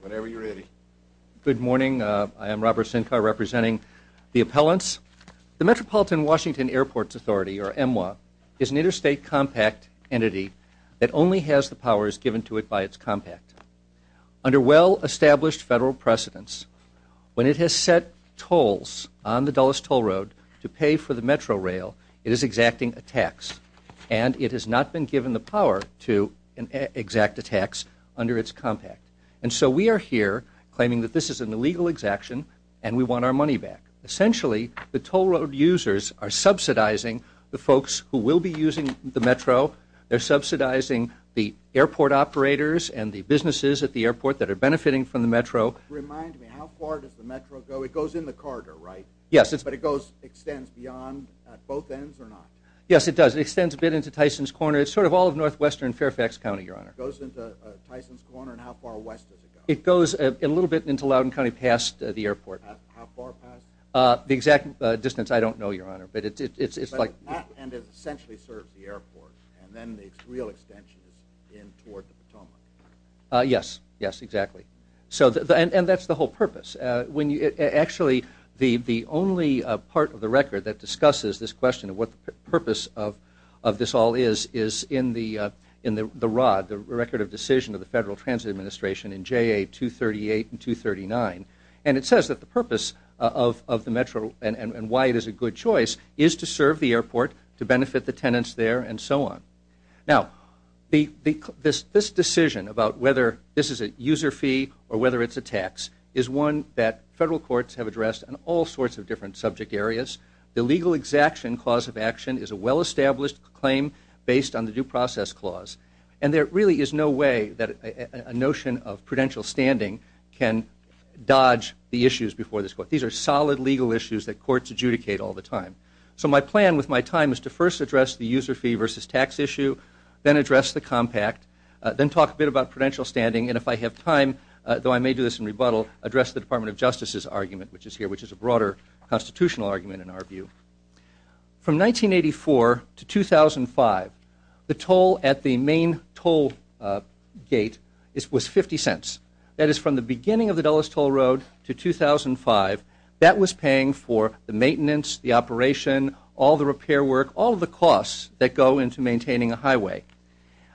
Whenever you're ready. Good morning, I am Robert Sinkar representing the appellants. The Metropolitan Washington Airports Authority, or MWA, is an interstate compact entity that only has the powers given to it by its compact. Under well established federal precedents, when it has set tolls on the Dulles toll road to pay for the metro rail, it is exacting a tax and it has not been given the power to exact a tax under its compact. And so we are here claiming that this is an illegal exaction and we want our money back. Essentially, the toll road users are subsidizing the folks who will be using the metro. They're subsidizing the airport operators and the businesses at the airport that are benefiting from the metro. Remind me, how far does the metro go? It goes in the corridor, right? Yes. But it goes, extends beyond both ends or not? Yes, it does. It extends a bit into Tyson's Corner. It's sort of all of northwestern Fairfax County, Your Honor. It goes into Tyson's Corner and how far west does it go? It goes a little bit into Loudoun County past the airport. How far past? The exact distance, I don't know, Your Honor, but it's like... And it essentially serves the airport and then the real extension is in toward the Potomac. Yes, yes, exactly. So, and that's the whole purpose. When you, actually, the purpose of this all is in the ROD, the Record of Decision of the Federal Transit Administration in JA 238 and 239, and it says that the purpose of the metro and why it is a good choice is to serve the airport, to benefit the tenants there, and so on. Now, this decision about whether this is a user fee or whether it's a tax is one that federal courts have addressed in all sorts of different subject areas. The legal exaction clause of action is a well-established claim based on the due process clause, and there really is no way that a notion of prudential standing can dodge the issues before this court. These are solid legal issues that courts adjudicate all the time. So, my plan with my time is to first address the user fee versus tax issue, then address the compact, then talk a bit about prudential standing, and if I have time, though I may do this in rebuttal, address the Department of Justice's argument, which is here, which is a broader constitutional argument in our issue. From 1984 to 2005, the toll at the main toll gate was 50 cents. That is, from the beginning of the Dulles Toll Road to 2005, that was paying for the maintenance, the operation, all the repair work, all the costs that go into maintaining a highway.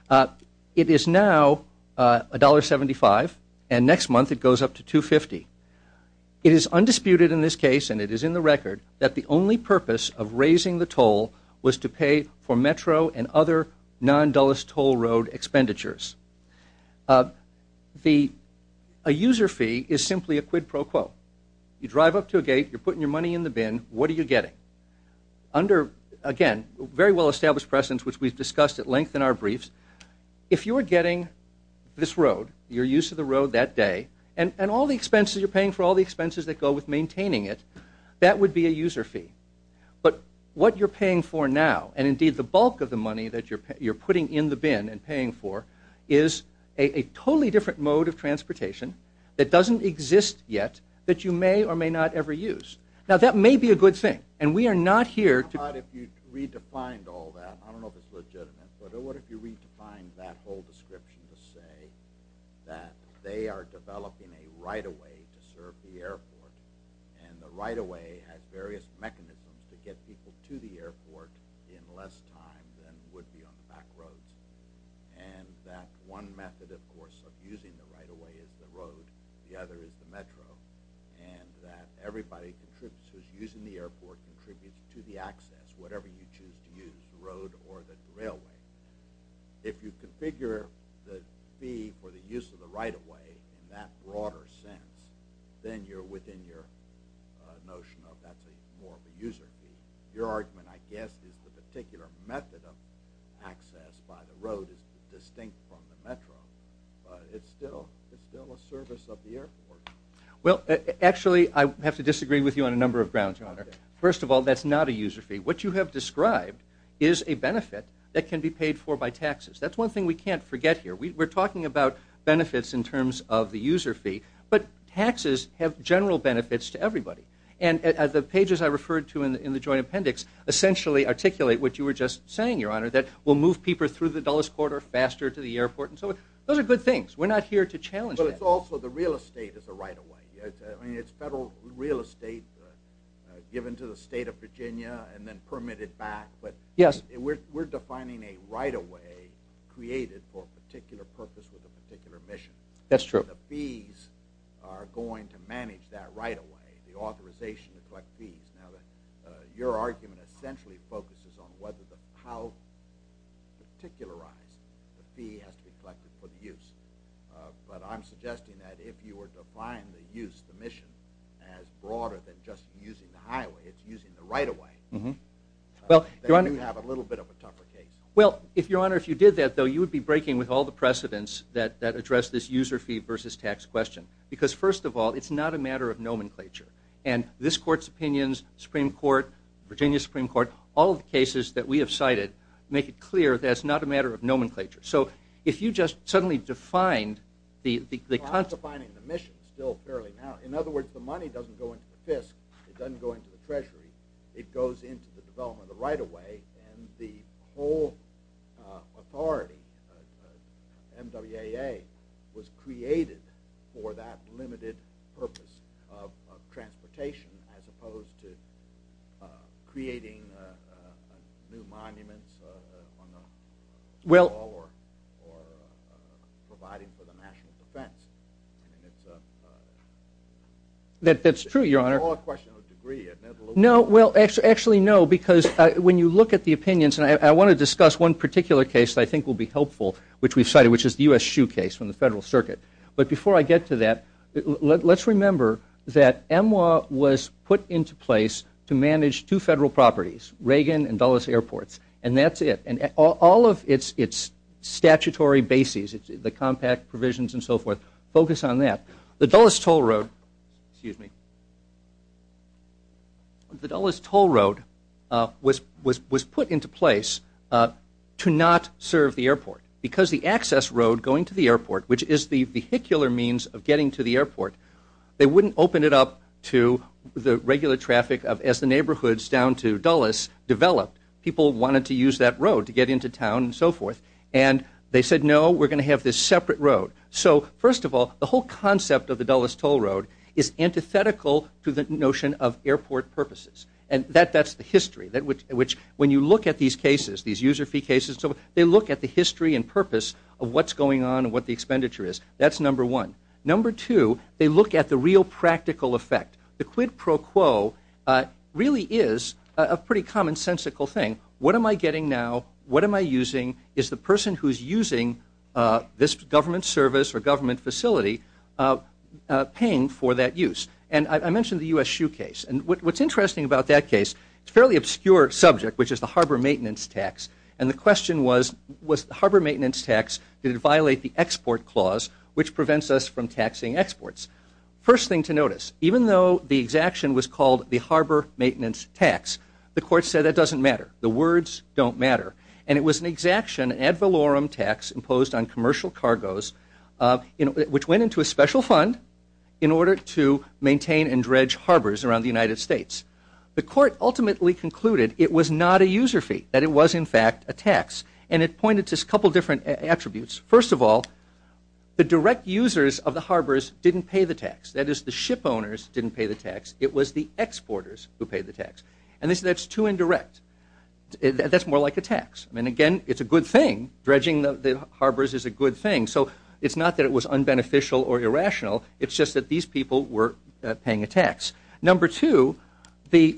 It is now $1.75, and next month it goes up to $2.50. It is disputed in this case, and it is in the record, that the only purpose of raising the toll was to pay for Metro and other non-Dulles Toll Road expenditures. A user fee is simply a quid pro quo. You drive up to a gate, you're putting your money in the bin, what are you getting? Under, again, very well-established precedence, which we've discussed at length in our briefs, if you are getting this road, your use of the road that day, and all the expenses you're paying for all the expenses that go with maintaining it, that would be a user fee. But what you're paying for now, and indeed the bulk of the money that you're you're putting in the bin and paying for, is a totally different mode of transportation that doesn't exist yet, that you may or may not ever use. Now that may be a good thing, and we are not here to... What if you redefined all that? I don't know if it's legitimate, but what if you redefined that whole description to say that they are developing a right-of-way to serve the airport, and the right-of-way has various mechanisms to get people to the airport in less time than would be on the back roads, and that one method, of course, of using the right-of-way is the road, the other is the metro, and that everybody who's using the airport contributes to the access, whatever you choose to use, the road or the railway. If you configure the for the use of the right-of-way in that broader sense, then you're within your notion of that's more of a user fee. Your argument, I guess, is the particular method of access by the road is distinct from the metro, but it's still a service of the airport. Well, actually, I have to disagree with you on a number of grounds, John. First of all, that's not a user fee. What you have described is a benefit that can be paid for by taxes. That's one thing we can't forget here. We're talking about benefits in terms of the user fee, but taxes have general benefits to everybody, and the pages I referred to in the Joint Appendix essentially articulate what you were just saying, Your Honor, that will move people through the Dulles Corridor faster to the airport, and so those are good things. We're not here to challenge that. But it's also the real estate is a right-of-way. I mean, it's federal real estate given to the state of Virginia and then permitted back, but we're defining a right-of-way created for a particular purpose with a particular mission. That's true. The fees are going to manage that right-of-way, the authorization to collect fees. Now, your argument essentially focuses on whether the how particularized the fee has to be collected for the use, but I'm suggesting that if you define the use, the mission, as broader than just using the highway, it's using the right-of-way. Then you have a little bit of a tougher case. Well, Your Honor, if you did that, though, you would be breaking with all the precedents that address this user fee versus tax question, because first of all, it's not a matter of nomenclature, and this Court's opinions, Supreme Court, Virginia Supreme Court, all the cases that we have cited make it clear that it's not a matter of In other words, the money doesn't go into the FISC. It doesn't go into the Treasury. It goes into the development of the right-of-way, and the whole authority, MWAA, was created for that limited purpose of transportation as opposed to That's true, Your Honor. No, well, actually, no, because when you look at the opinions, and I want to discuss one particular case I think will be helpful, which we've cited, which is the U.S. shoe case from the Federal Circuit, but before I get to that, let's remember that MWAA was put into place to manage two federal properties, Reagan and Dulles Airports, and that's it, and all of its statutory bases, the compact provisions and so forth, focus on that. The Dulles toll road, excuse me, the Dulles toll road was put into place to not serve the airport, because the access road going to the airport, which is the vehicular means of getting to the airport, they wouldn't open it up to the regular traffic as the neighborhoods down to Dulles developed. People wanted to use that road to get into town and so forth, and they said, no, we're going to have this separate road. So, first of all, the whole concept of the Dulles toll road is antithetical to the notion of airport purposes, and that's the history, which, when you look at these cases, these user fee cases, so they look at the history and purpose of what's going on and what the expenditure is. That's number one. Number two, they look at the real practical effect. The quid pro quo is a pretty commonsensical thing. What am I getting now? What am I using? Is the person who's using this government service or government facility paying for that use? And I mentioned the U.S. shoe case, and what's interesting about that case, it's a fairly obscure subject, which is the harbor maintenance tax, and the question was, was the harbor maintenance tax going to violate the export clause, which prevents us from taxing exports? First thing to notice, even though the exaction was called the harbor maintenance tax, the court said that doesn't matter. The words don't matter, and it was an exaction ad valorem tax imposed on commercial cargos, which went into a special fund in order to maintain and dredge harbors around the United States. The court ultimately concluded it was not a user fee, that it was, in fact, a tax, and it pointed to a couple different attributes. First of all, the direct users of the harbors didn't pay the tax. That is, the ship owners didn't pay the tax. It was the exporters who paid the tax, and that's too indirect. That's more like a tax. I mean, again, it's a good thing. Dredging the harbors is a good thing, so it's not that it was unbeneficial or irrational. It's just that these people were paying a tax. Number two, the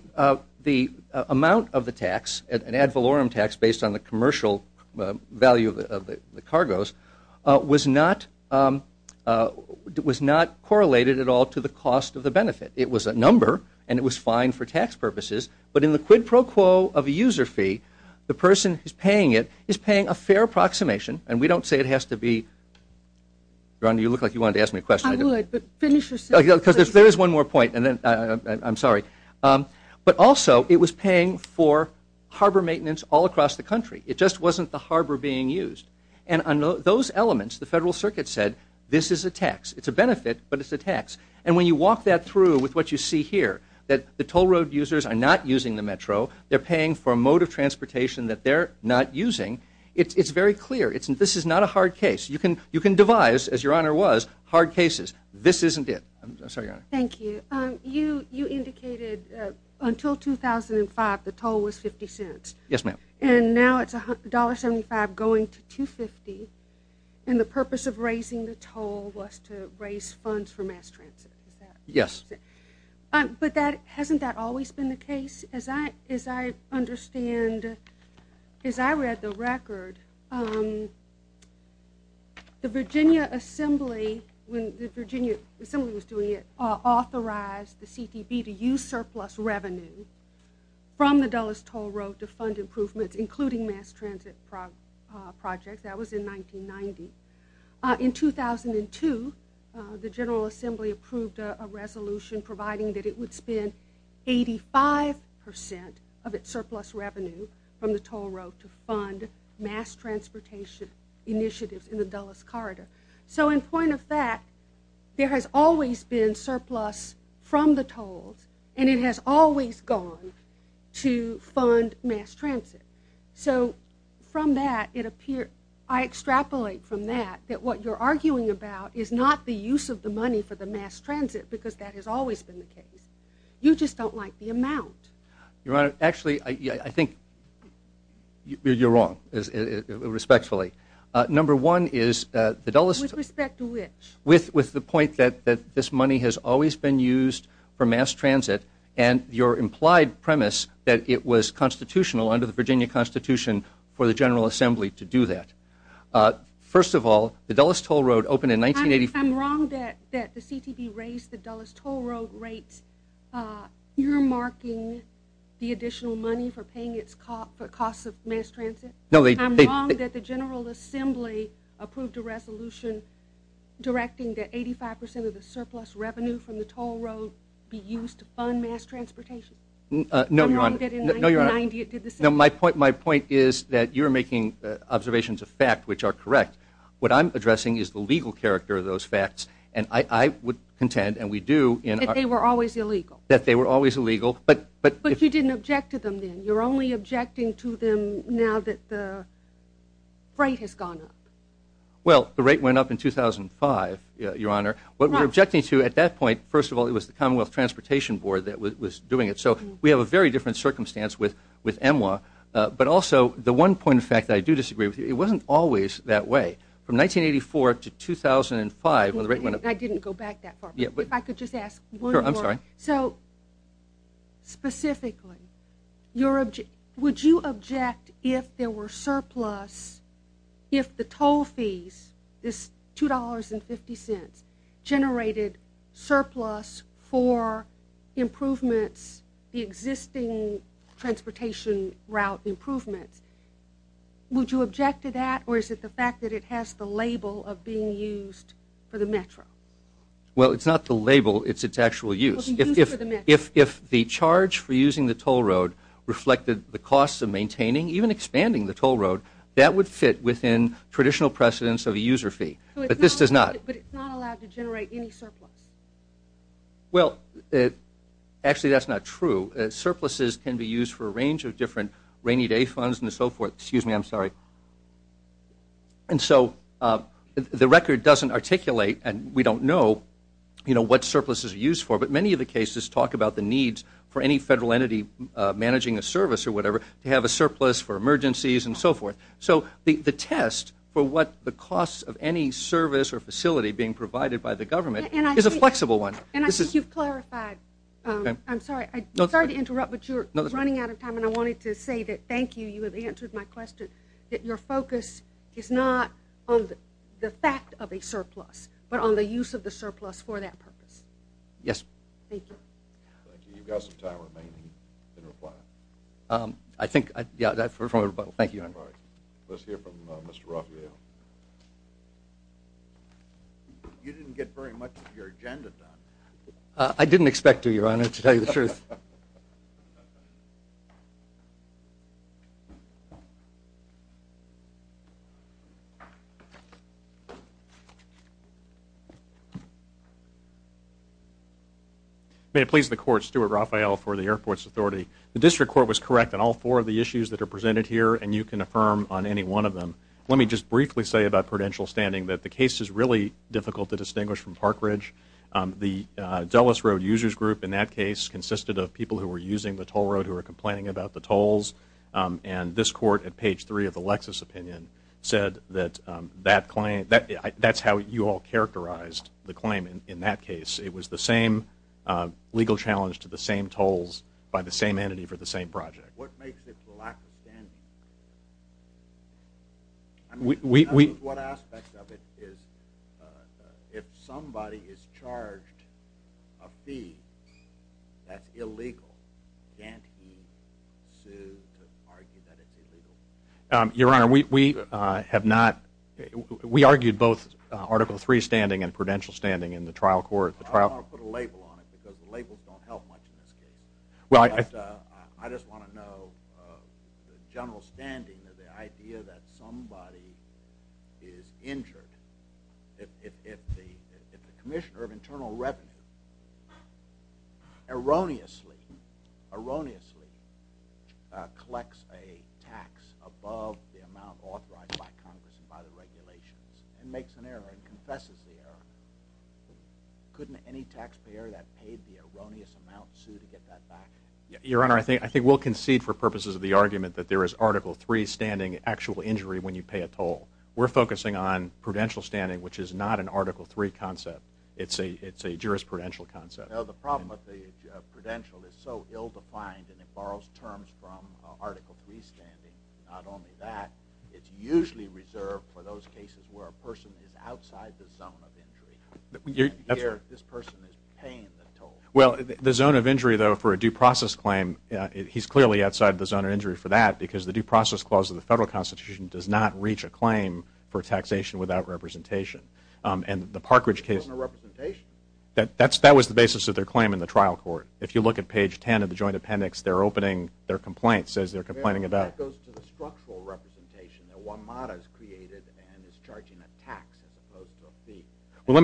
amount of the tax, an ad valorem tax based on the cost of the benefit. It was a number, and it was fine for tax purposes, but in the quid pro quo of a user fee, the person who's paying it is paying a fair approximation, and we don't say it has to be... Ron, you look like you wanted to ask me a question. I would, but finish your sentence. Because there is one more point, and then I'm sorry. But also, it was paying for harbor maintenance all across the country. It just wasn't the harbor being used, and on those elements, the Federal Circuit said, this is a tax. It's a benefit, but it's a tax. And when you walk that through with what you see here, that the toll road users are not using the Metro, they're paying for a mode of transportation that they're not using, it's very clear. This is not a hard case. You can devise, as your honor was, hard cases. This isn't it. I'm sorry, your honor. Thank you. You indicated until 2005, the toll was 50 cents. Yes, ma'am. And now it's $1.75 going to $2.50, and the purpose of raising the toll was to raise funds for mass transit. Yes. But hasn't that always been the case? As I understand, as I read the record, the Virginia Assembly, when the Virginia Assembly was doing it, authorized the CTV to use surplus revenue from the Dulles Toll Road to fund improvements, including mass transit projects. That was in 1990. In 2002, the General Assembly approved a resolution providing that it would spend 85% of its surplus revenue from the toll road to fund mass transportation initiatives in the Dulles Corridor. So in point of fact, there has always been surplus from the tolls, and it has always gone to fund mass transit. So from that, it appeared, I extrapolate from that, that what you're arguing about is not the use of the money for the mass transit, because that has always been the case. You just don't like the amount. Your honor, actually, I think you're wrong, respectfully. Number one is the Dulles. With respect to which? With the point that this money has always been used for mass transit, and your implied premise that it was constitutional under the Virginia Constitution for the General Assembly to do that. First of all, the Dulles Toll Road opened in 1985. I'm wrong that the CTV raised the Dulles Toll Road rates. You're marking the additional money for paying its cost for costs of mass transit. I'm wrong that the General Assembly approved a resolution directing that 85% of the surplus revenue from the toll road be used to fund mass transportation. No, your honor, my point is that you're making observations of fact which are correct. What I'm addressing is the legal character of those facts, and I would contend, and we do, that they were always illegal. That they were always illegal, but you didn't object to them then. You're only objecting to them now that the rate has gone up. Well, the rate went up in 2005, your honor. What we're objecting to at that point, first of all, it was the Commonwealth Transportation Board that was doing it, so we have a very different circumstance with EMWA, but also the one point of fact that I do disagree with you, it wasn't always that way. From 1984 to 2005, when the rate went up. I didn't go back that far. If I could just ask one more. I'm sorry. So, specifically, would you object if there were surplus, if the toll fees, this two dollars and fifty cents, generated surplus for improvements, the existing transportation route improvements, would you object to that, or is it the fact that it has the label of being used for the Metro? Well, it's not the label, it's its actual use. If the charge for using the toll road reflected the costs of maintaining, even expanding the toll road, that would fit within traditional precedence of a user fee, but this does not. But it's not allowed to generate any surplus? Well, actually that's not true. Surpluses can be used for a range of different rainy day funds and so forth. Excuse me, I'm sorry. And so, the record doesn't articulate, and we don't know, you know, what surpluses are used for, but many of the cases talk about the needs for any federal entity managing a service or whatever, to have a surplus for emergencies and so forth. So, the test for what the cost of any service or facility being provided by the government is a flexible one. And I think you've clarified. I'm sorry to interrupt, but you're running out of time, and I wanted to say that, thank you, you have answered my question, that your focus is not on the fact of a surplus, but on the use of the surplus for that purpose. Yes. Thank you. Thank you. You've got some time remaining in reply. I think, yeah, I've heard from everybody. Thank you, Your Honor. Let's hear from Mr. Raphael. You didn't get very much of your agenda done. I didn't expect to, Your Honor, to tell you the truth. May it please the Court, Stuart Raphael for the Airports Authority. The District Court was correct on all four of the issues that are presented here, and you can affirm on any one of them. Let me just briefly say about prudential standing that the case is really difficult to distinguish from Parkridge. The Dulles Road Users Group, in that case, consisted of people who were using the toll road who were complaining about the tolls, and this Court, at page 3 of the Lexus opinion, said that that claim, that's how you all characterized the claim in that case. It was the same legal challenge to the same tolls by the same entity for the same project. What makes it the lack of standing? I mean, that is one aspect of it, is if somebody is charged a fee that's illegal, can't he sue to argue that it's illegal? Your Honor, we have not, we argued both Article 3 standing and prudential standing in the trial court. I don't want to put a label on it, because the labels don't help much in this case. I just want to know the general standing of the idea that somebody is injured if the Commissioner of Internal Revenue erroneously, erroneously, collects a tax above the amount authorized by Congress and by the regulations and makes an error and confesses the error. Couldn't any taxpayer that paid the erroneous amount sue to get that back? Your Honor, I think we'll concede for purposes of the argument that there is Article 3 standing actual injury when you pay a toll. We're focusing on prudential standing, which is not an Article 3 concept. It's a jurisprudential concept. Well, the problem with the prudential is so ill-defined and it borrows terms from Article 3 standing. Not only that, it's usually reserved for those cases where a person is outside the zone of injury. And here, this person is paying the toll. Well, the zone of injury, though, for a due process claim, he's clearly outside the zone of injury for that, because the Due Process Clause of the Federal Constitution does not reach a claim for taxation without representation. And the Parkridge case… That was the basis of their claim in the trial court. If you look at page 10 of the Joint Appendix, their complaint says they're complaining about… That goes to the structural representation that WMATA has created and is charging a tax as opposed to a fee. Well, let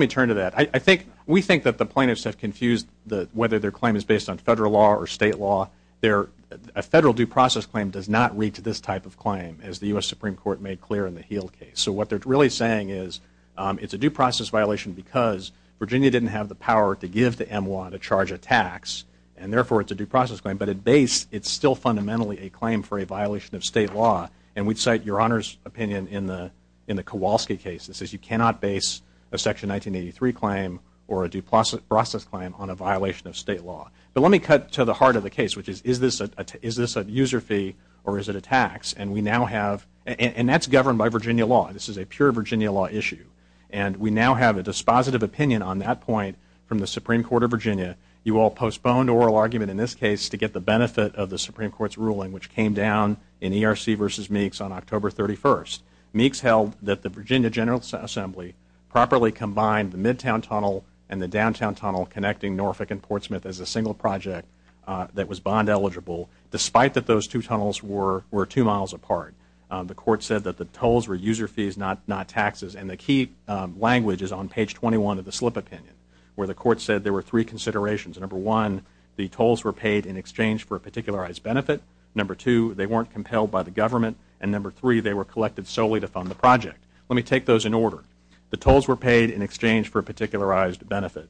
me turn to that. We think that the plaintiffs have confused whether their claim is based on federal law or state law. A federal due process claim does not reach this type of claim, as the U.S. Supreme Court made clear in the Heal case. So what they're really saying is it's a due process violation because Virginia didn't have the power to give the MWA to charge a tax, and therefore it's a due process claim. But at base, it's still fundamentally a claim for a violation of state law. And we'd cite Your Honor's opinion in the Kowalski case that says you cannot base a Section 1983 claim or a due process claim on a violation of state law. But let me cut to the heart of the case, which is, is this a user fee or is it a tax? And we now have… And that's governed by Virginia law. This is a pure Virginia law issue. And we now have a dispositive opinion on that point from the Supreme Court of Virginia. You all postponed oral argument in this case to get the benefit of the Supreme Court's ruling, which came down in ERC v. Meeks on October 31st. Meeks held that the Virginia General Assembly properly combined the Midtown Tunnel and the Downtown Tunnel connecting Norfolk and Portsmouth as a single project that was bond eligible, despite that those two tunnels were two miles apart. The court said that the tolls were user fees, not taxes. And the key language is on page 21 of the slip opinion, where the court said there were three considerations. Number one, the tolls were paid in exchange for a particularized benefit. Number two, they weren't compelled by the government. And number three, they were collected solely to fund the project. Let me take those in order. The tolls were paid in exchange for a particularized benefit.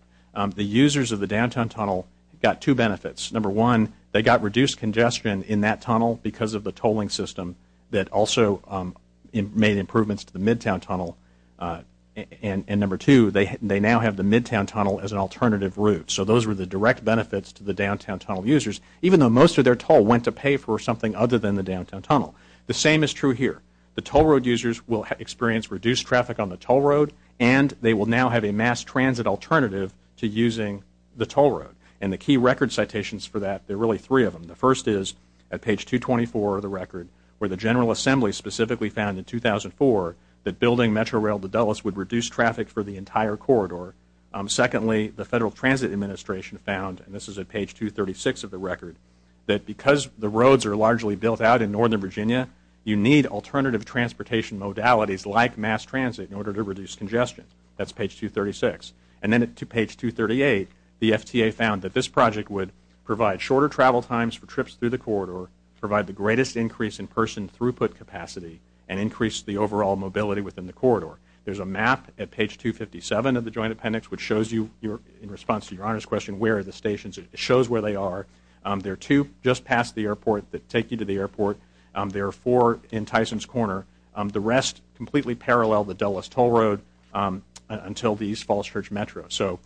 The users of the Downtown Tunnel got two benefits. Number one, they got reduced congestion in that tunnel because of the tolling system that also made improvements to the Midtown Tunnel. And number two, they now have the Midtown Tunnel as an alternative route. So those were the direct benefits to the Downtown Tunnel users, even though most of their toll went to pay for something other than the Downtown Tunnel. The same is true here. The toll road users will experience reduced traffic on the toll road and they will now have a mass transit alternative to using the toll road. And the key record citations for that, there are really three of them. The first is at page 224 of the record, where the General Assembly specifically found in 2004 that building Metro Rail to Dulles would reduce traffic for the entire corridor. Secondly, the Federal Transit Administration found, and this is at page 236 of the record, that because the roads are largely built out in Northern Virginia, you need alternative transportation modalities like mass transit in order to reduce congestion. That's page 236. And then at page 238, the FTA found that this project would provide shorter travel times for trips through the corridor, provide the greatest increase in person throughput capacity, and increase the overall mobility within the corridor. There's a map at page 257 of the Joint Appendix which shows you, in response to Your Honor's question, where are the stations. It shows where they are. There are two just past the airport that take you to the airport. There are four in Tyson's Corner. The rest completely parallel the Dulles Toll Road until the East Falls Church Metro. So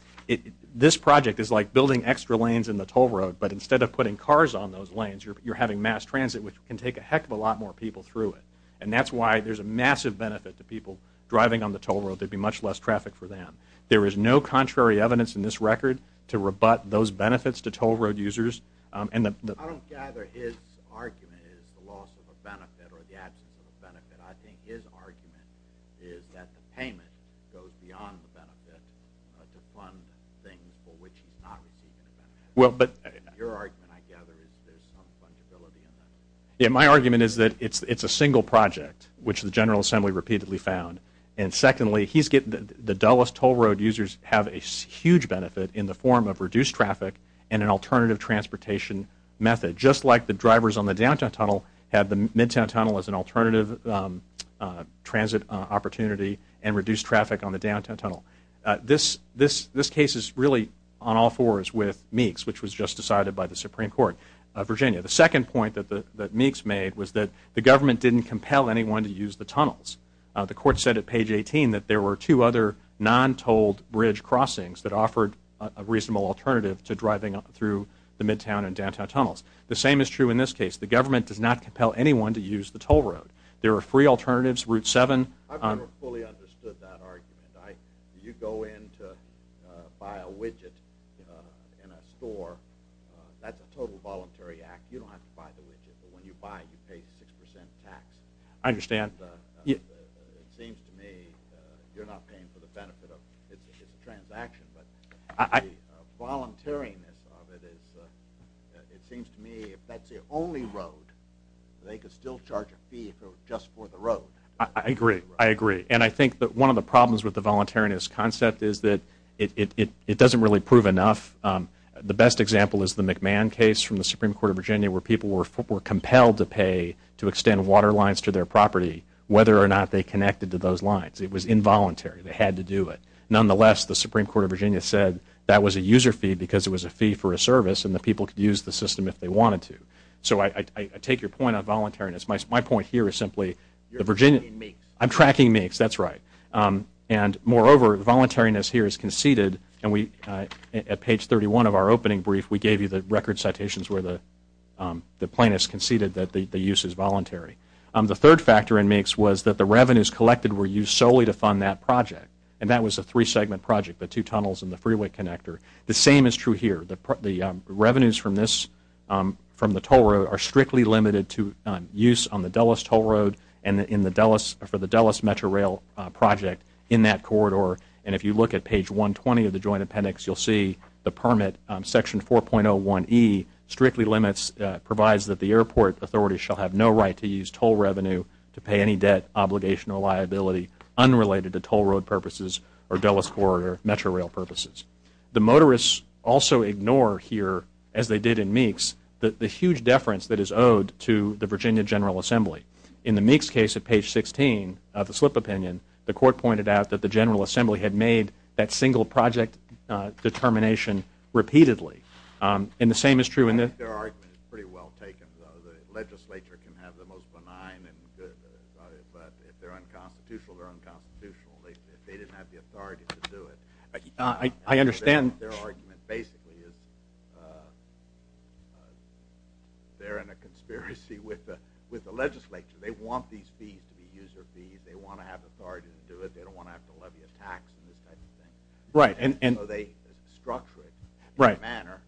this project is like building extra lanes in the toll road, but instead of putting cars on those lanes, you're having mass transit which can take a heck of a lot more people through it. And that's why there's a massive benefit to people driving on the toll road. There'd be much less traffic for them. There is no contrary evidence in this record to rebut those benefits to toll road users. I don't gather his argument is the loss of a benefit or the absence of a benefit. I think his argument is that the payment goes beyond the benefit to fund things for which he's not receiving the benefit. Your argument, I gather, is there's some fungibility in that. Yeah, my argument is that it's a single project, which the General Assembly repeatedly found. And secondly, the Dulles Toll Road users have a huge benefit in the form of reduced traffic and an alternative transportation method. Just like the drivers on the downtown tunnel have the midtown tunnel as an alternative transit opportunity and reduced traffic on the downtown tunnel. This case is really on all fours with Meeks, which was just decided by the Supreme Court of Virginia. The second point that Meeks made was that the government didn't compel anyone to use the tunnels. The court said at page 18 that there were two other non-tolled bridge crossings that offered a reasonable alternative to driving through the midtown and downtown tunnels. The same is true in this case. The government does not compel anyone to use the toll road. There are free alternatives, Route 7. I've never fully understood that argument. You go in to buy a widget in a store. That's a total voluntary act. You don't have to buy the widget, but when you buy it, you pay 6% tax. I understand. It seems to me you're not paying for the benefit. It's a transaction. The voluntariness of it, it seems to me if that's the only road, they could still charge a fee if it was just for the road. I agree. I agree. I think that one of the problems with the voluntariness concept is that it doesn't really prove enough. The best example is the McMahon case from the Supreme Court of Virginia where people were compelled to pay to extend water lines to their property whether or not they connected to those lines. It was involuntary. They had to do it. Nonetheless, the Supreme Court of Virginia said that was a user fee because it was a fee for a service and the people could use the system if they wanted to. I take your point on voluntariness. My point here is simply I'm tracking Meeks. That's right. Moreover, voluntariness here is conceded. At page 31 of our opening brief, we gave you the record citations where the plaintiffs conceded that the use is voluntary. The third factor in Meeks was that the revenues collected were used solely to fund that project. That was a three-segment project, the two tunnels and the freeway connector. The same is true here. The revenues from the toll road are strictly limited to use on the Dulles toll road and for the Dulles Metro Rail project in that corridor. If you look at page 120 of the joint appendix, you'll see the permit, section 4.01E, strictly limits, provides that the airport authority shall have no right to use toll revenue to pay any debt, obligation, or liability unrelated to toll road purposes or Dulles corridor Metro Rail purposes. The motorists also ignore here, as they did in Meeks, the huge deference that is owed to the Virginia General Assembly. In the Meeks case at page 16 of the slip opinion, the court pointed out that the General Assembly had made that single project determination repeatedly. And the same is true in the – I think their argument is pretty well taken, though. The legislature can have the most benign, but if they're unconstitutional, they're unconstitutional. They didn't have the authority to do it. I understand – Their argument basically is they're in a conspiracy with the legislature. They want these fees to be user fees. They want to have authority to do it. They don't want to have to levy a tax and this type of thing. Right, and – So they structure it in a manner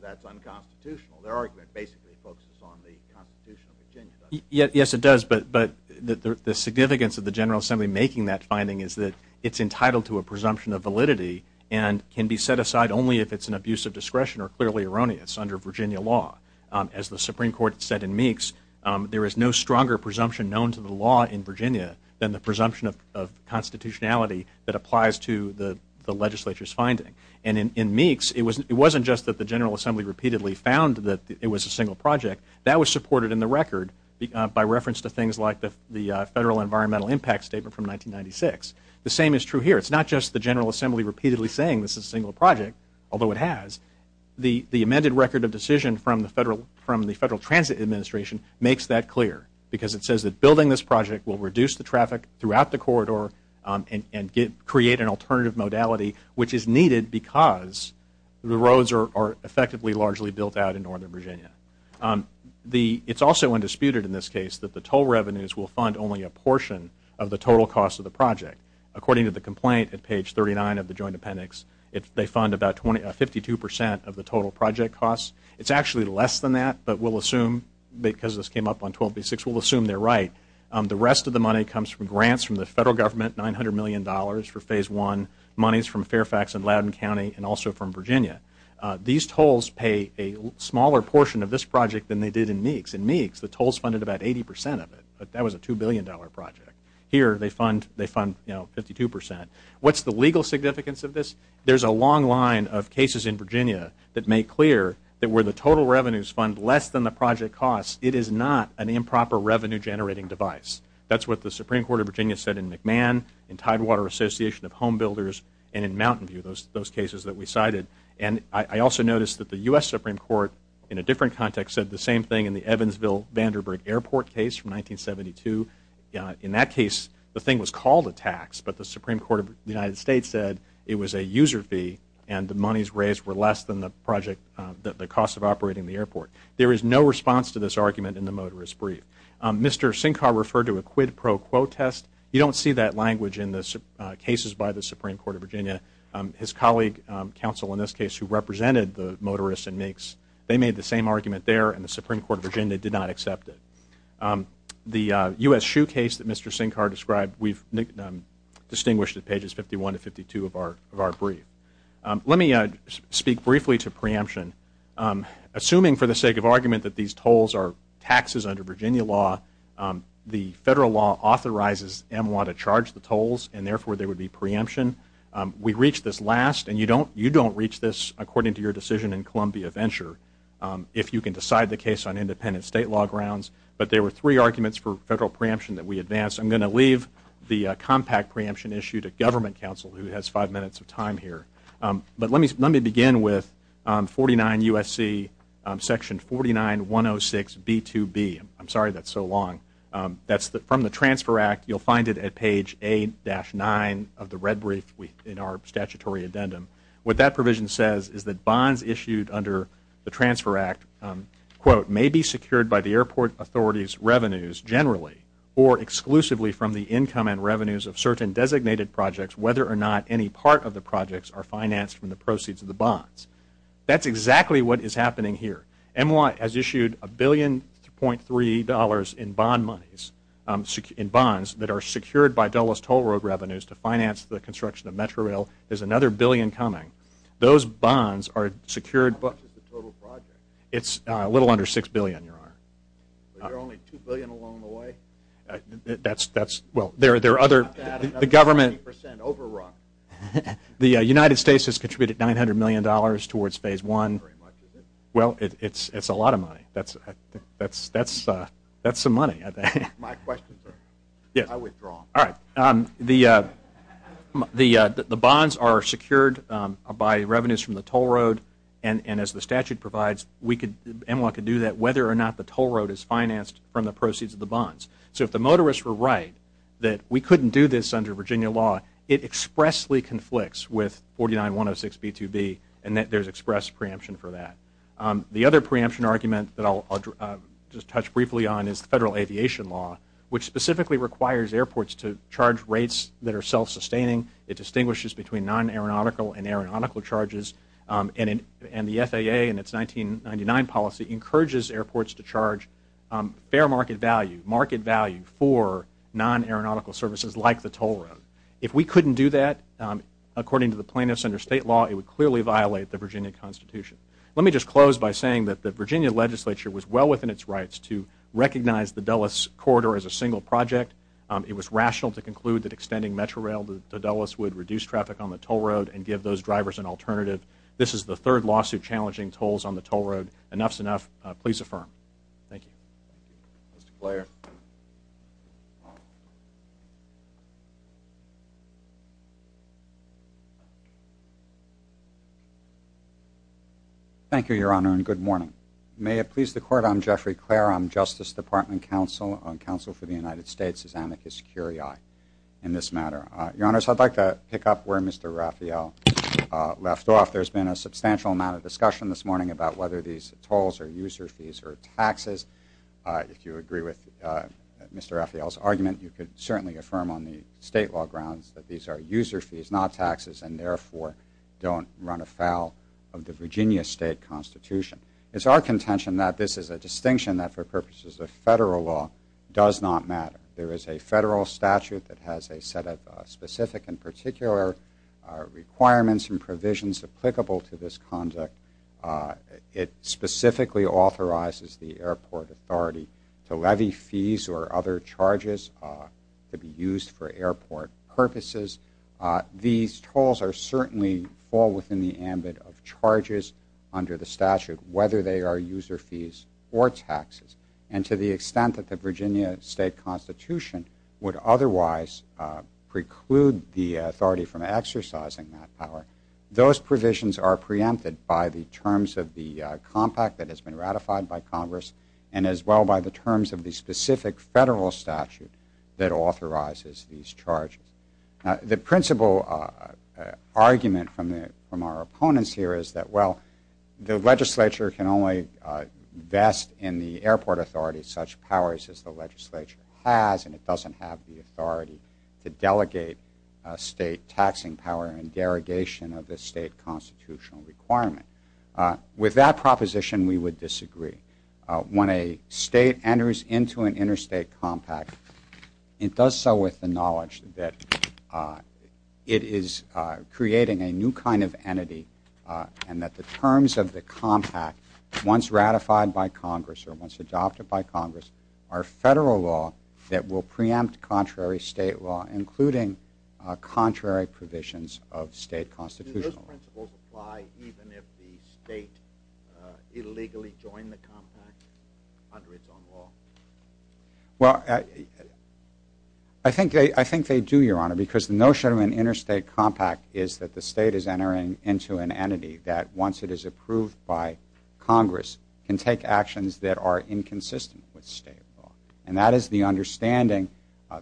that's unconstitutional. Their argument basically focuses on the constitution of Virginia, doesn't it? Yes, it does, but the significance of the General Assembly making that finding is that it's entitled to a presumption of validity and can be set aside only if it's an abuse of discretion or clearly erroneous under Virginia law. As the Supreme Court said in Meeks, there is no stronger presumption known to the law in Virginia than the presumption of constitutionality that applies to the legislature's finding. And in Meeks, it wasn't just that the General Assembly repeatedly found that it was a single project. That was supported in the record by reference to things like the Federal Environmental Impact Statement from 1996. The same is true here. It's not just the General Assembly repeatedly saying this is a single project, although it has. The amended record of decision from the Federal Transit Administration makes that clear because it says that building this project will reduce the traffic throughout the corridor and create an alternative modality which is needed because the roads are effectively largely built out in northern Virginia. It's also undisputed in this case that the toll revenues will fund only a portion of the total cost of the project. According to the complaint at page 39 of the Joint Appendix, they fund about 52% of the total project cost. It's actually less than that, but we'll assume, because this came up on 12B6, we'll assume they're right. The rest of the money comes from grants from the Federal Government, $900 million for Phase I, monies from Fairfax and Loudoun County, and also from Virginia. These tolls pay a smaller portion of this project than they did in Meeks. In Meeks, the tolls funded about 80% of it, but that was a $2 billion project. Here, they fund 52%. What's the legal significance of this? There's a long line of cases in Virginia that make clear that where the total revenues fund less than the project cost, it is not an improper revenue-generating device. That's what the Supreme Court of Virginia said in McMahon, in Tidewater Association of Home Builders, and in Mountain View, those cases that we cited. I also noticed that the U.S. Supreme Court, in a different context, said the same thing in the Evansville-Vanderbilt Airport case from 1972. In that case, the thing was called a tax, but the Supreme Court of the United States said it was a user fee, and the monies raised were less than the cost of operating the airport. There is no response to this argument in the motorist brief. Mr. Sinkar referred to a quid pro quo test. You don't see that language in the cases by the Supreme Court of Virginia. His colleague, counsel in this case, who represented the motorists and MEECs, they made the same argument there, and the Supreme Court of Virginia did not accept it. The U.S. shoe case that Mr. Sinkar described, we've distinguished at pages 51 to 52 of our brief. Let me speak briefly to preemption. Assuming for the sake of argument that these tolls are taxes under Virginia law, the federal law authorizes MWA to charge the tolls, and therefore there would be preemption. We reached this last, and you don't reach this, according to your decision in Columbia Venture, if you can decide the case on independent state law grounds. But there were three arguments for federal preemption that we advanced. I'm going to leave the compact preemption issue to Government Counsel, who has five minutes of time here. But let me begin with 49 U.S.C. section 49106B2B. I'm sorry that's so long. That's from the Transfer Act. You'll find it at page 8-9 of the red brief in our statutory addendum. What that provision says is that bonds issued under the Transfer Act, quote, may be secured by the airport authority's revenues generally or exclusively from the income and revenues of certain designated projects, whether or not any part of the projects are financed from the proceeds of the bonds. That's exactly what is happening here. MWA has issued $1.3 billion in bond monies, in bonds, that are secured by Dulles Toll Road revenues to finance the construction of Metrorail. There's another billion coming. Those bonds are secured by the total project. It's a little under $6 billion, Your Honor. You're only $2 billion along the way? That's, well, there are other, the government, the United States has contributed $900 million towards phase one. Well, it's a lot of money. That's some money. My questions are, I withdraw. All right. The bonds are secured by revenues from the toll road, and as the statute provides, MWA can do that, whether or not the toll road is financed from the proceeds of the bonds. So if the motorists were right that we couldn't do this under Virginia law, it expressly conflicts with 49-106-B2B and that there's express preemption for that. The other preemption argument that I'll just touch briefly on is the federal aviation law, which specifically requires airports to charge rates that are self-sustaining. It distinguishes between non-aeronautical and aeronautical charges, and the FAA in its 1999 policy encourages airports to charge fair market value, market value for non-aeronautical services like the toll road. If we couldn't do that, according to the plaintiffs under state law, it would clearly violate the Virginia Constitution. Let me just close by saying that the Virginia legislature was well within its rights to recognize the Dulles corridor as a single project. It was rational to conclude that extending Metrorail to Dulles would reduce traffic on the toll road and give those drivers an alternative. This is the third lawsuit challenging tolls on the toll road. Enough's enough. Please affirm. Thank you. Mr. Blair. Thank you, Your Honor, and good morning. May it please the Court, I'm Jeffrey Blair. I'm Justice Department counsel on counsel for the United States as amicus curiae in this matter. Your Honors, I'd like to pick up where Mr. Raphael left off. There's been a substantial amount of discussion this morning about whether these tolls are user fees or taxes. If you agree with Mr. Raphael's argument, you could certainly affirm on the state law grounds that these are user fees, not taxes, and therefore don't run afoul of the Virginia state constitution. It's our contention that this is a distinction that for purposes of federal law does not matter. There is a federal statute that has a set of specific and particular requirements and provisions applicable to this conduct. It specifically authorizes the airport authority to levy fees or other charges to be used for airport purposes. These tolls certainly fall within the ambit of charges under the statute, whether they are user fees or taxes. And to the extent that the Virginia state constitution would otherwise preclude the authority from exercising that power, those provisions are preempted by the terms of the compact that has been ratified by Congress and as well by the terms of the specific federal statute that authorizes these charges. The principal argument from our opponents here is that, well, the legislature can only vest in the airport authority such powers as the legislature has, and it doesn't have the authority to delegate state taxing power and derogation of the state constitutional requirement. With that proposition, we would disagree. When a state enters into an interstate compact, it does so with the knowledge that it is creating a new kind of entity and that the terms of the compact, once ratified by Congress or once adopted by Congress, are federal law that will preempt contrary state law, including contrary provisions of state constitutional law. Do those principles apply even if the state illegally joined the compact under its own law? Well, I think they do, Your Honor, because the notion of an interstate compact is that the state is entering into an entity that, once it is approved by Congress, can take actions that are inconsistent with state law. And that is the understanding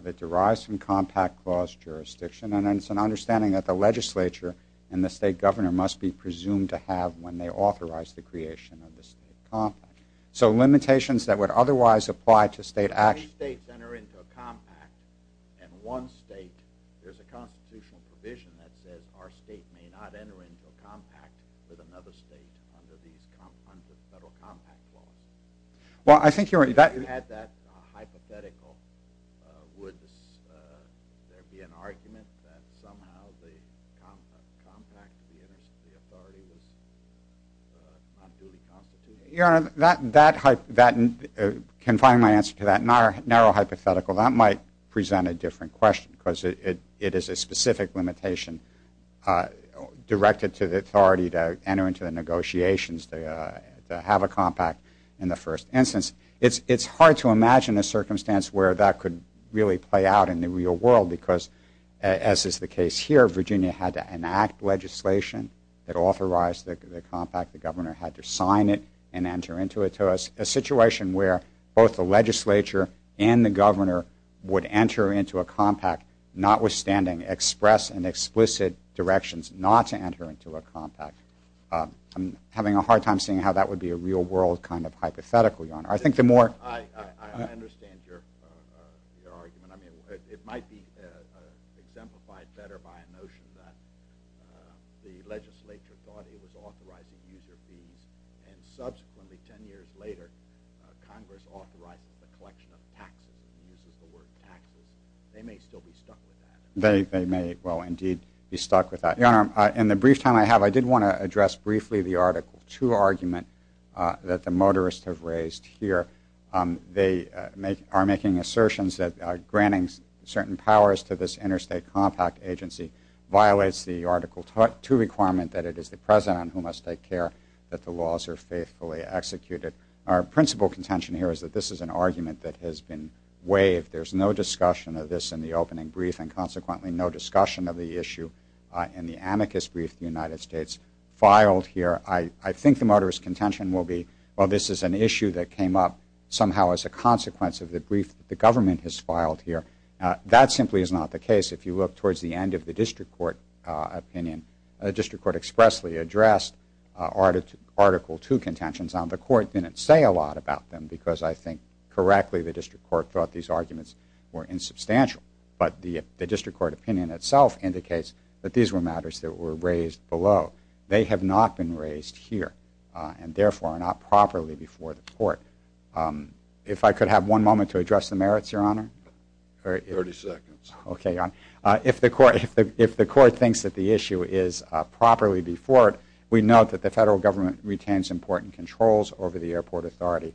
that derives from compact clause jurisdiction, and it's an understanding that the legislature and the state governor must be presumed to have when they authorize the creation of the state compact. So limitations that would otherwise apply to state action— If two states enter into a compact and one state, there's a constitutional provision that says our state may not enter into a compact with another state under the federal compact clause. Well, I think you're— If you had that hypothetical, would there be an argument that somehow the compact, the authority, was unduly constituted? Your Honor, confining my answer to that narrow hypothetical, that might present a different question because it is a specific limitation directed to the authority to enter into the negotiations to have a compact in the first instance. It's hard to imagine a circumstance where that could really play out in the real world because, as is the case here, Virginia had to enact legislation that authorized the compact. The governor had to sign it and enter into it. So a situation where both the legislature and the governor would enter into a compact, notwithstanding express and explicit directions not to enter into a compact, I'm having a hard time seeing how that would be a real-world kind of hypothetical, Your Honor. I think the more— I understand your argument. I mean, it might be exemplified better by a notion that the legislature thought it was authorizing user fees and subsequently, 10 years later, Congress authorizes the collection of taxes and uses the word taxes. They may still be stuck with that. They may, well, indeed, be stuck with that. Your Honor, in the brief time I have, I did want to address briefly the Article 2 argument that the motorists have raised here. They are making assertions that granting certain powers to this interstate compact agency violates the Article 2 requirement that it is the president who must take care that the laws are faithfully executed. Our principal contention here is that this is an argument that has been waived. There's no discussion of this in the opening brief and, consequently, no discussion of the issue in the amicus brief the United States filed here. I think the motorist contention will be, well, this is an issue that came up somehow as a consequence of the brief that the government has filed here. That simply is not the case. If you look towards the end of the district court opinion, the district court expressly addressed Article 2 contentions. Now, the court didn't say a lot about them because I think, correctly, the district court thought these arguments were insubstantial. But the district court opinion itself indicates that these were matters that were raised below. They have not been raised here and, therefore, are not properly before the court. If I could have one moment to address the merits, Your Honor. Thirty seconds. Okay, Your Honor. If the court thinks that the issue is properly before it, we note that the federal government retains important controls over the airport authority.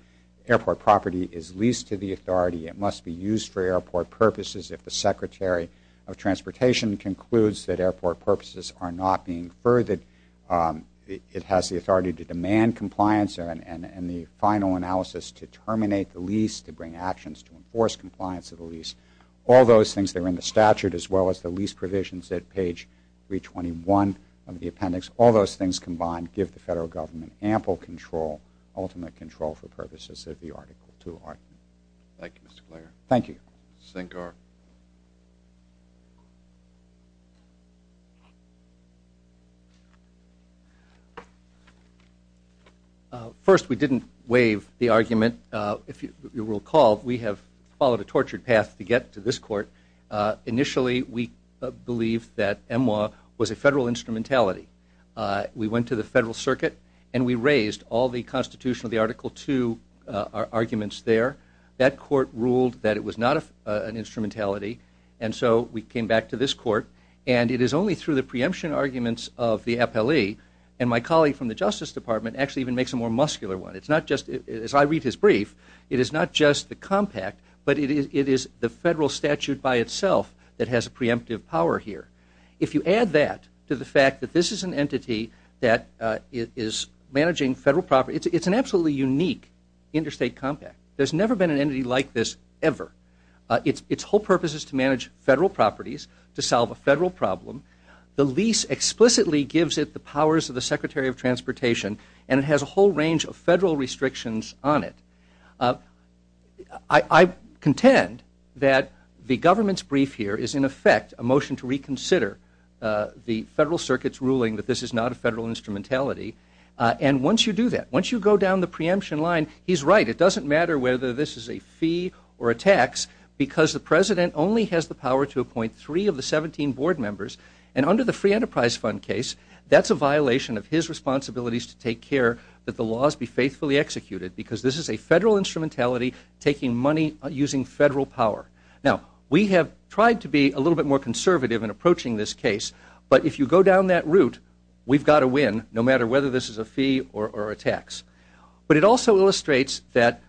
Airport property is leased to the authority. It must be used for airport purposes. If the Secretary of Transportation concludes that airport purposes are not being furthered, it has the authority to demand compliance and the final analysis to terminate the lease, to bring actions to enforce compliance of the lease. All those things that are in the statute, as well as the lease provisions at page 321 of the appendix, all those things combined give the federal government ample control, ultimate control for purposes of the Article 2 argument. Thank you, Mr. Clare. Thank you. Sankar. First, we didn't waive the argument. If you recall, we have followed a tortured path to get to this court. Initially, we believed that MWA was a federal instrumentality. We went to the federal circuit and we raised all the constitution of the Article 2 arguments there. That court ruled that it was not an instrumentality, and so we came back to this court. And it is only through the preemption arguments of the appellee, and my colleague from the Justice Department actually even makes a more muscular one. It's not just, as I read his brief, it is not just the compact, but it is the federal statute by itself that has a preemptive power here. If you add that to the fact that this is an entity that is managing federal property, it's an absolutely unique interstate compact. There's never been an entity like this ever. Its whole purpose is to manage federal properties, to solve a federal problem. The lease explicitly gives it the powers of the Secretary of Transportation, and it has a whole range of federal restrictions on it. I contend that the government's brief here is, in effect, a motion to reconsider the federal circuit's ruling that this is not a federal instrumentality. And once you do that, once you go down the preemption line, he's right. It doesn't matter whether this is a fee or a tax because the president only has the power to appoint three of the 17 board members, and under the Free Enterprise Fund case, that's a violation of his responsibilities to take care that the laws be faithfully executed because this is a federal instrumentality taking money using federal power. Now, we have tried to be a little bit more conservative in approaching this case, but if you go down that route, we've got to win no matter whether this is a fee or a tax. But it also illustrates that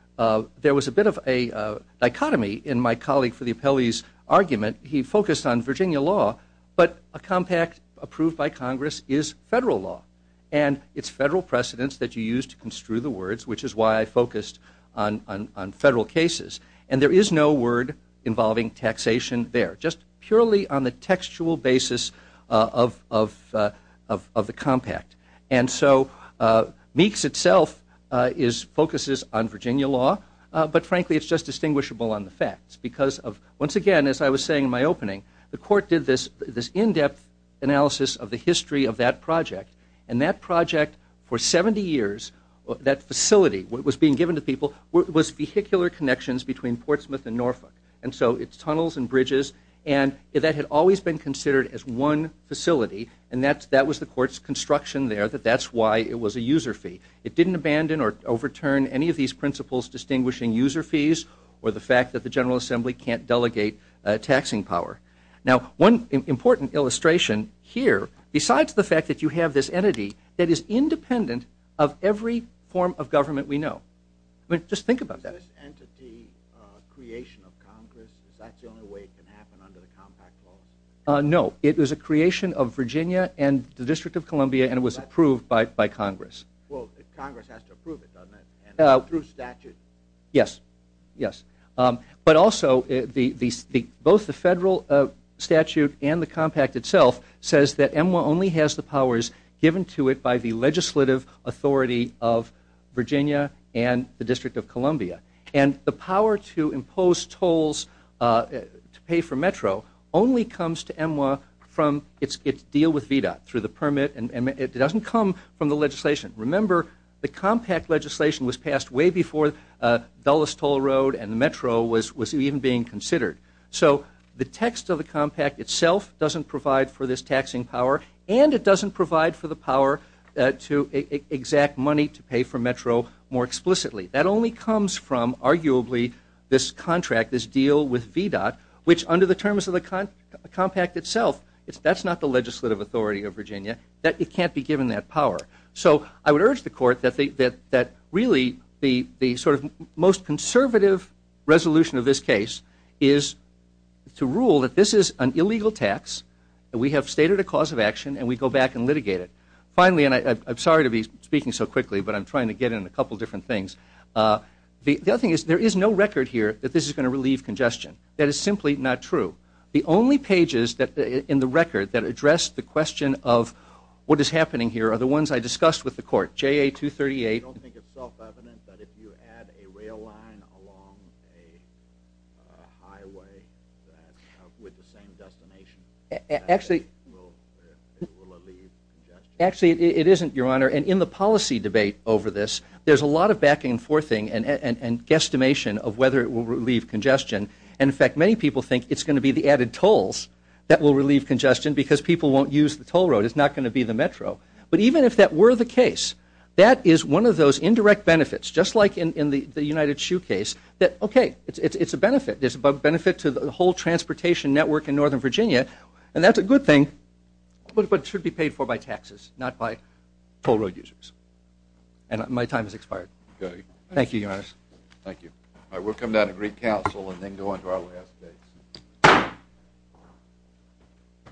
there was a bit of a dichotomy in my colleague for the appellee's argument. He focused on Virginia law, but a compact approved by Congress is federal law, and it's federal precedence that you use to construe the words, which is why I focused on federal cases. And there is no word involving taxation there, just purely on the textual basis of the compact. And so Meeks itself focuses on Virginia law, but frankly, it's just distinguishable on the facts because once again, as I was saying in my opening, the court did this in-depth analysis of the history of that project, and that project for 70 years, that facility was being given to people, was vehicular connections between Portsmouth and Norfolk. And so it's tunnels and bridges, and that had always been considered as one facility, and that was the court's construction there, that that's why it was a user fee. It didn't abandon or overturn any of these principles distinguishing user fees or the fact that the General Assembly can't delegate taxing power. Now, one important illustration here, besides the fact that you have this entity that is independent of every form of government we know. I mean, just think about that. Is this entity a creation of Congress? Is that the only way it can happen under the compact law? No. It was a creation of Virginia and the District of Columbia, and it was approved by Congress. Well, Congress has to approve it, doesn't it, through statute? Yes. Yes. But also, both the federal statute and the compact itself says that EMWA only has the powers given to it by the legislative authority of Virginia and the District of Columbia. And the power to impose tolls to pay for Metro only comes to EMWA from its deal with VDOT, through the permit, and it doesn't come from the legislation. Remember, the compact legislation was passed way before Dulles Toll Road and the Metro was even being considered. So the text of the compact itself doesn't provide for this taxing power, and it doesn't provide for the power to exact money to pay for Metro more explicitly. That only comes from, arguably, this contract, this deal with VDOT, which under the terms of the compact itself, that's not the legislative authority of Virginia. It can't be given that power. So I would urge the Court that really the sort of most conservative resolution of this case is to rule that this is an illegal tax, that we have stated a cause of action, and we go back and litigate it. Finally, and I'm sorry to be speaking so quickly, but I'm trying to get into a couple different things. The other thing is there is no record here that this is going to relieve congestion. That is simply not true. The only pages in the record that address the question of what is happening here are the ones I discussed with the Court, JA238. I don't think it's self-evident that if you add a rail line along a highway with the same destination, it will relieve congestion. Actually, it isn't, Your Honor, and in the policy debate over this, there's a lot of back and forthing and guesstimation of whether it will relieve congestion. In fact, many people think it's going to be the added tolls that will relieve congestion because people won't use the toll road. It's not going to be the Metro. But even if that were the case, that is one of those indirect benefits, just like in the United Shoe case, that, okay, it's a benefit. There's a benefit to the whole transportation network in northern Virginia, and that's a good thing, but it should be paid for by taxes, not by toll road users. And my time has expired. Thank you, Your Honor. Thank you. All right, we'll come down to Greek Council and then go on to our last case.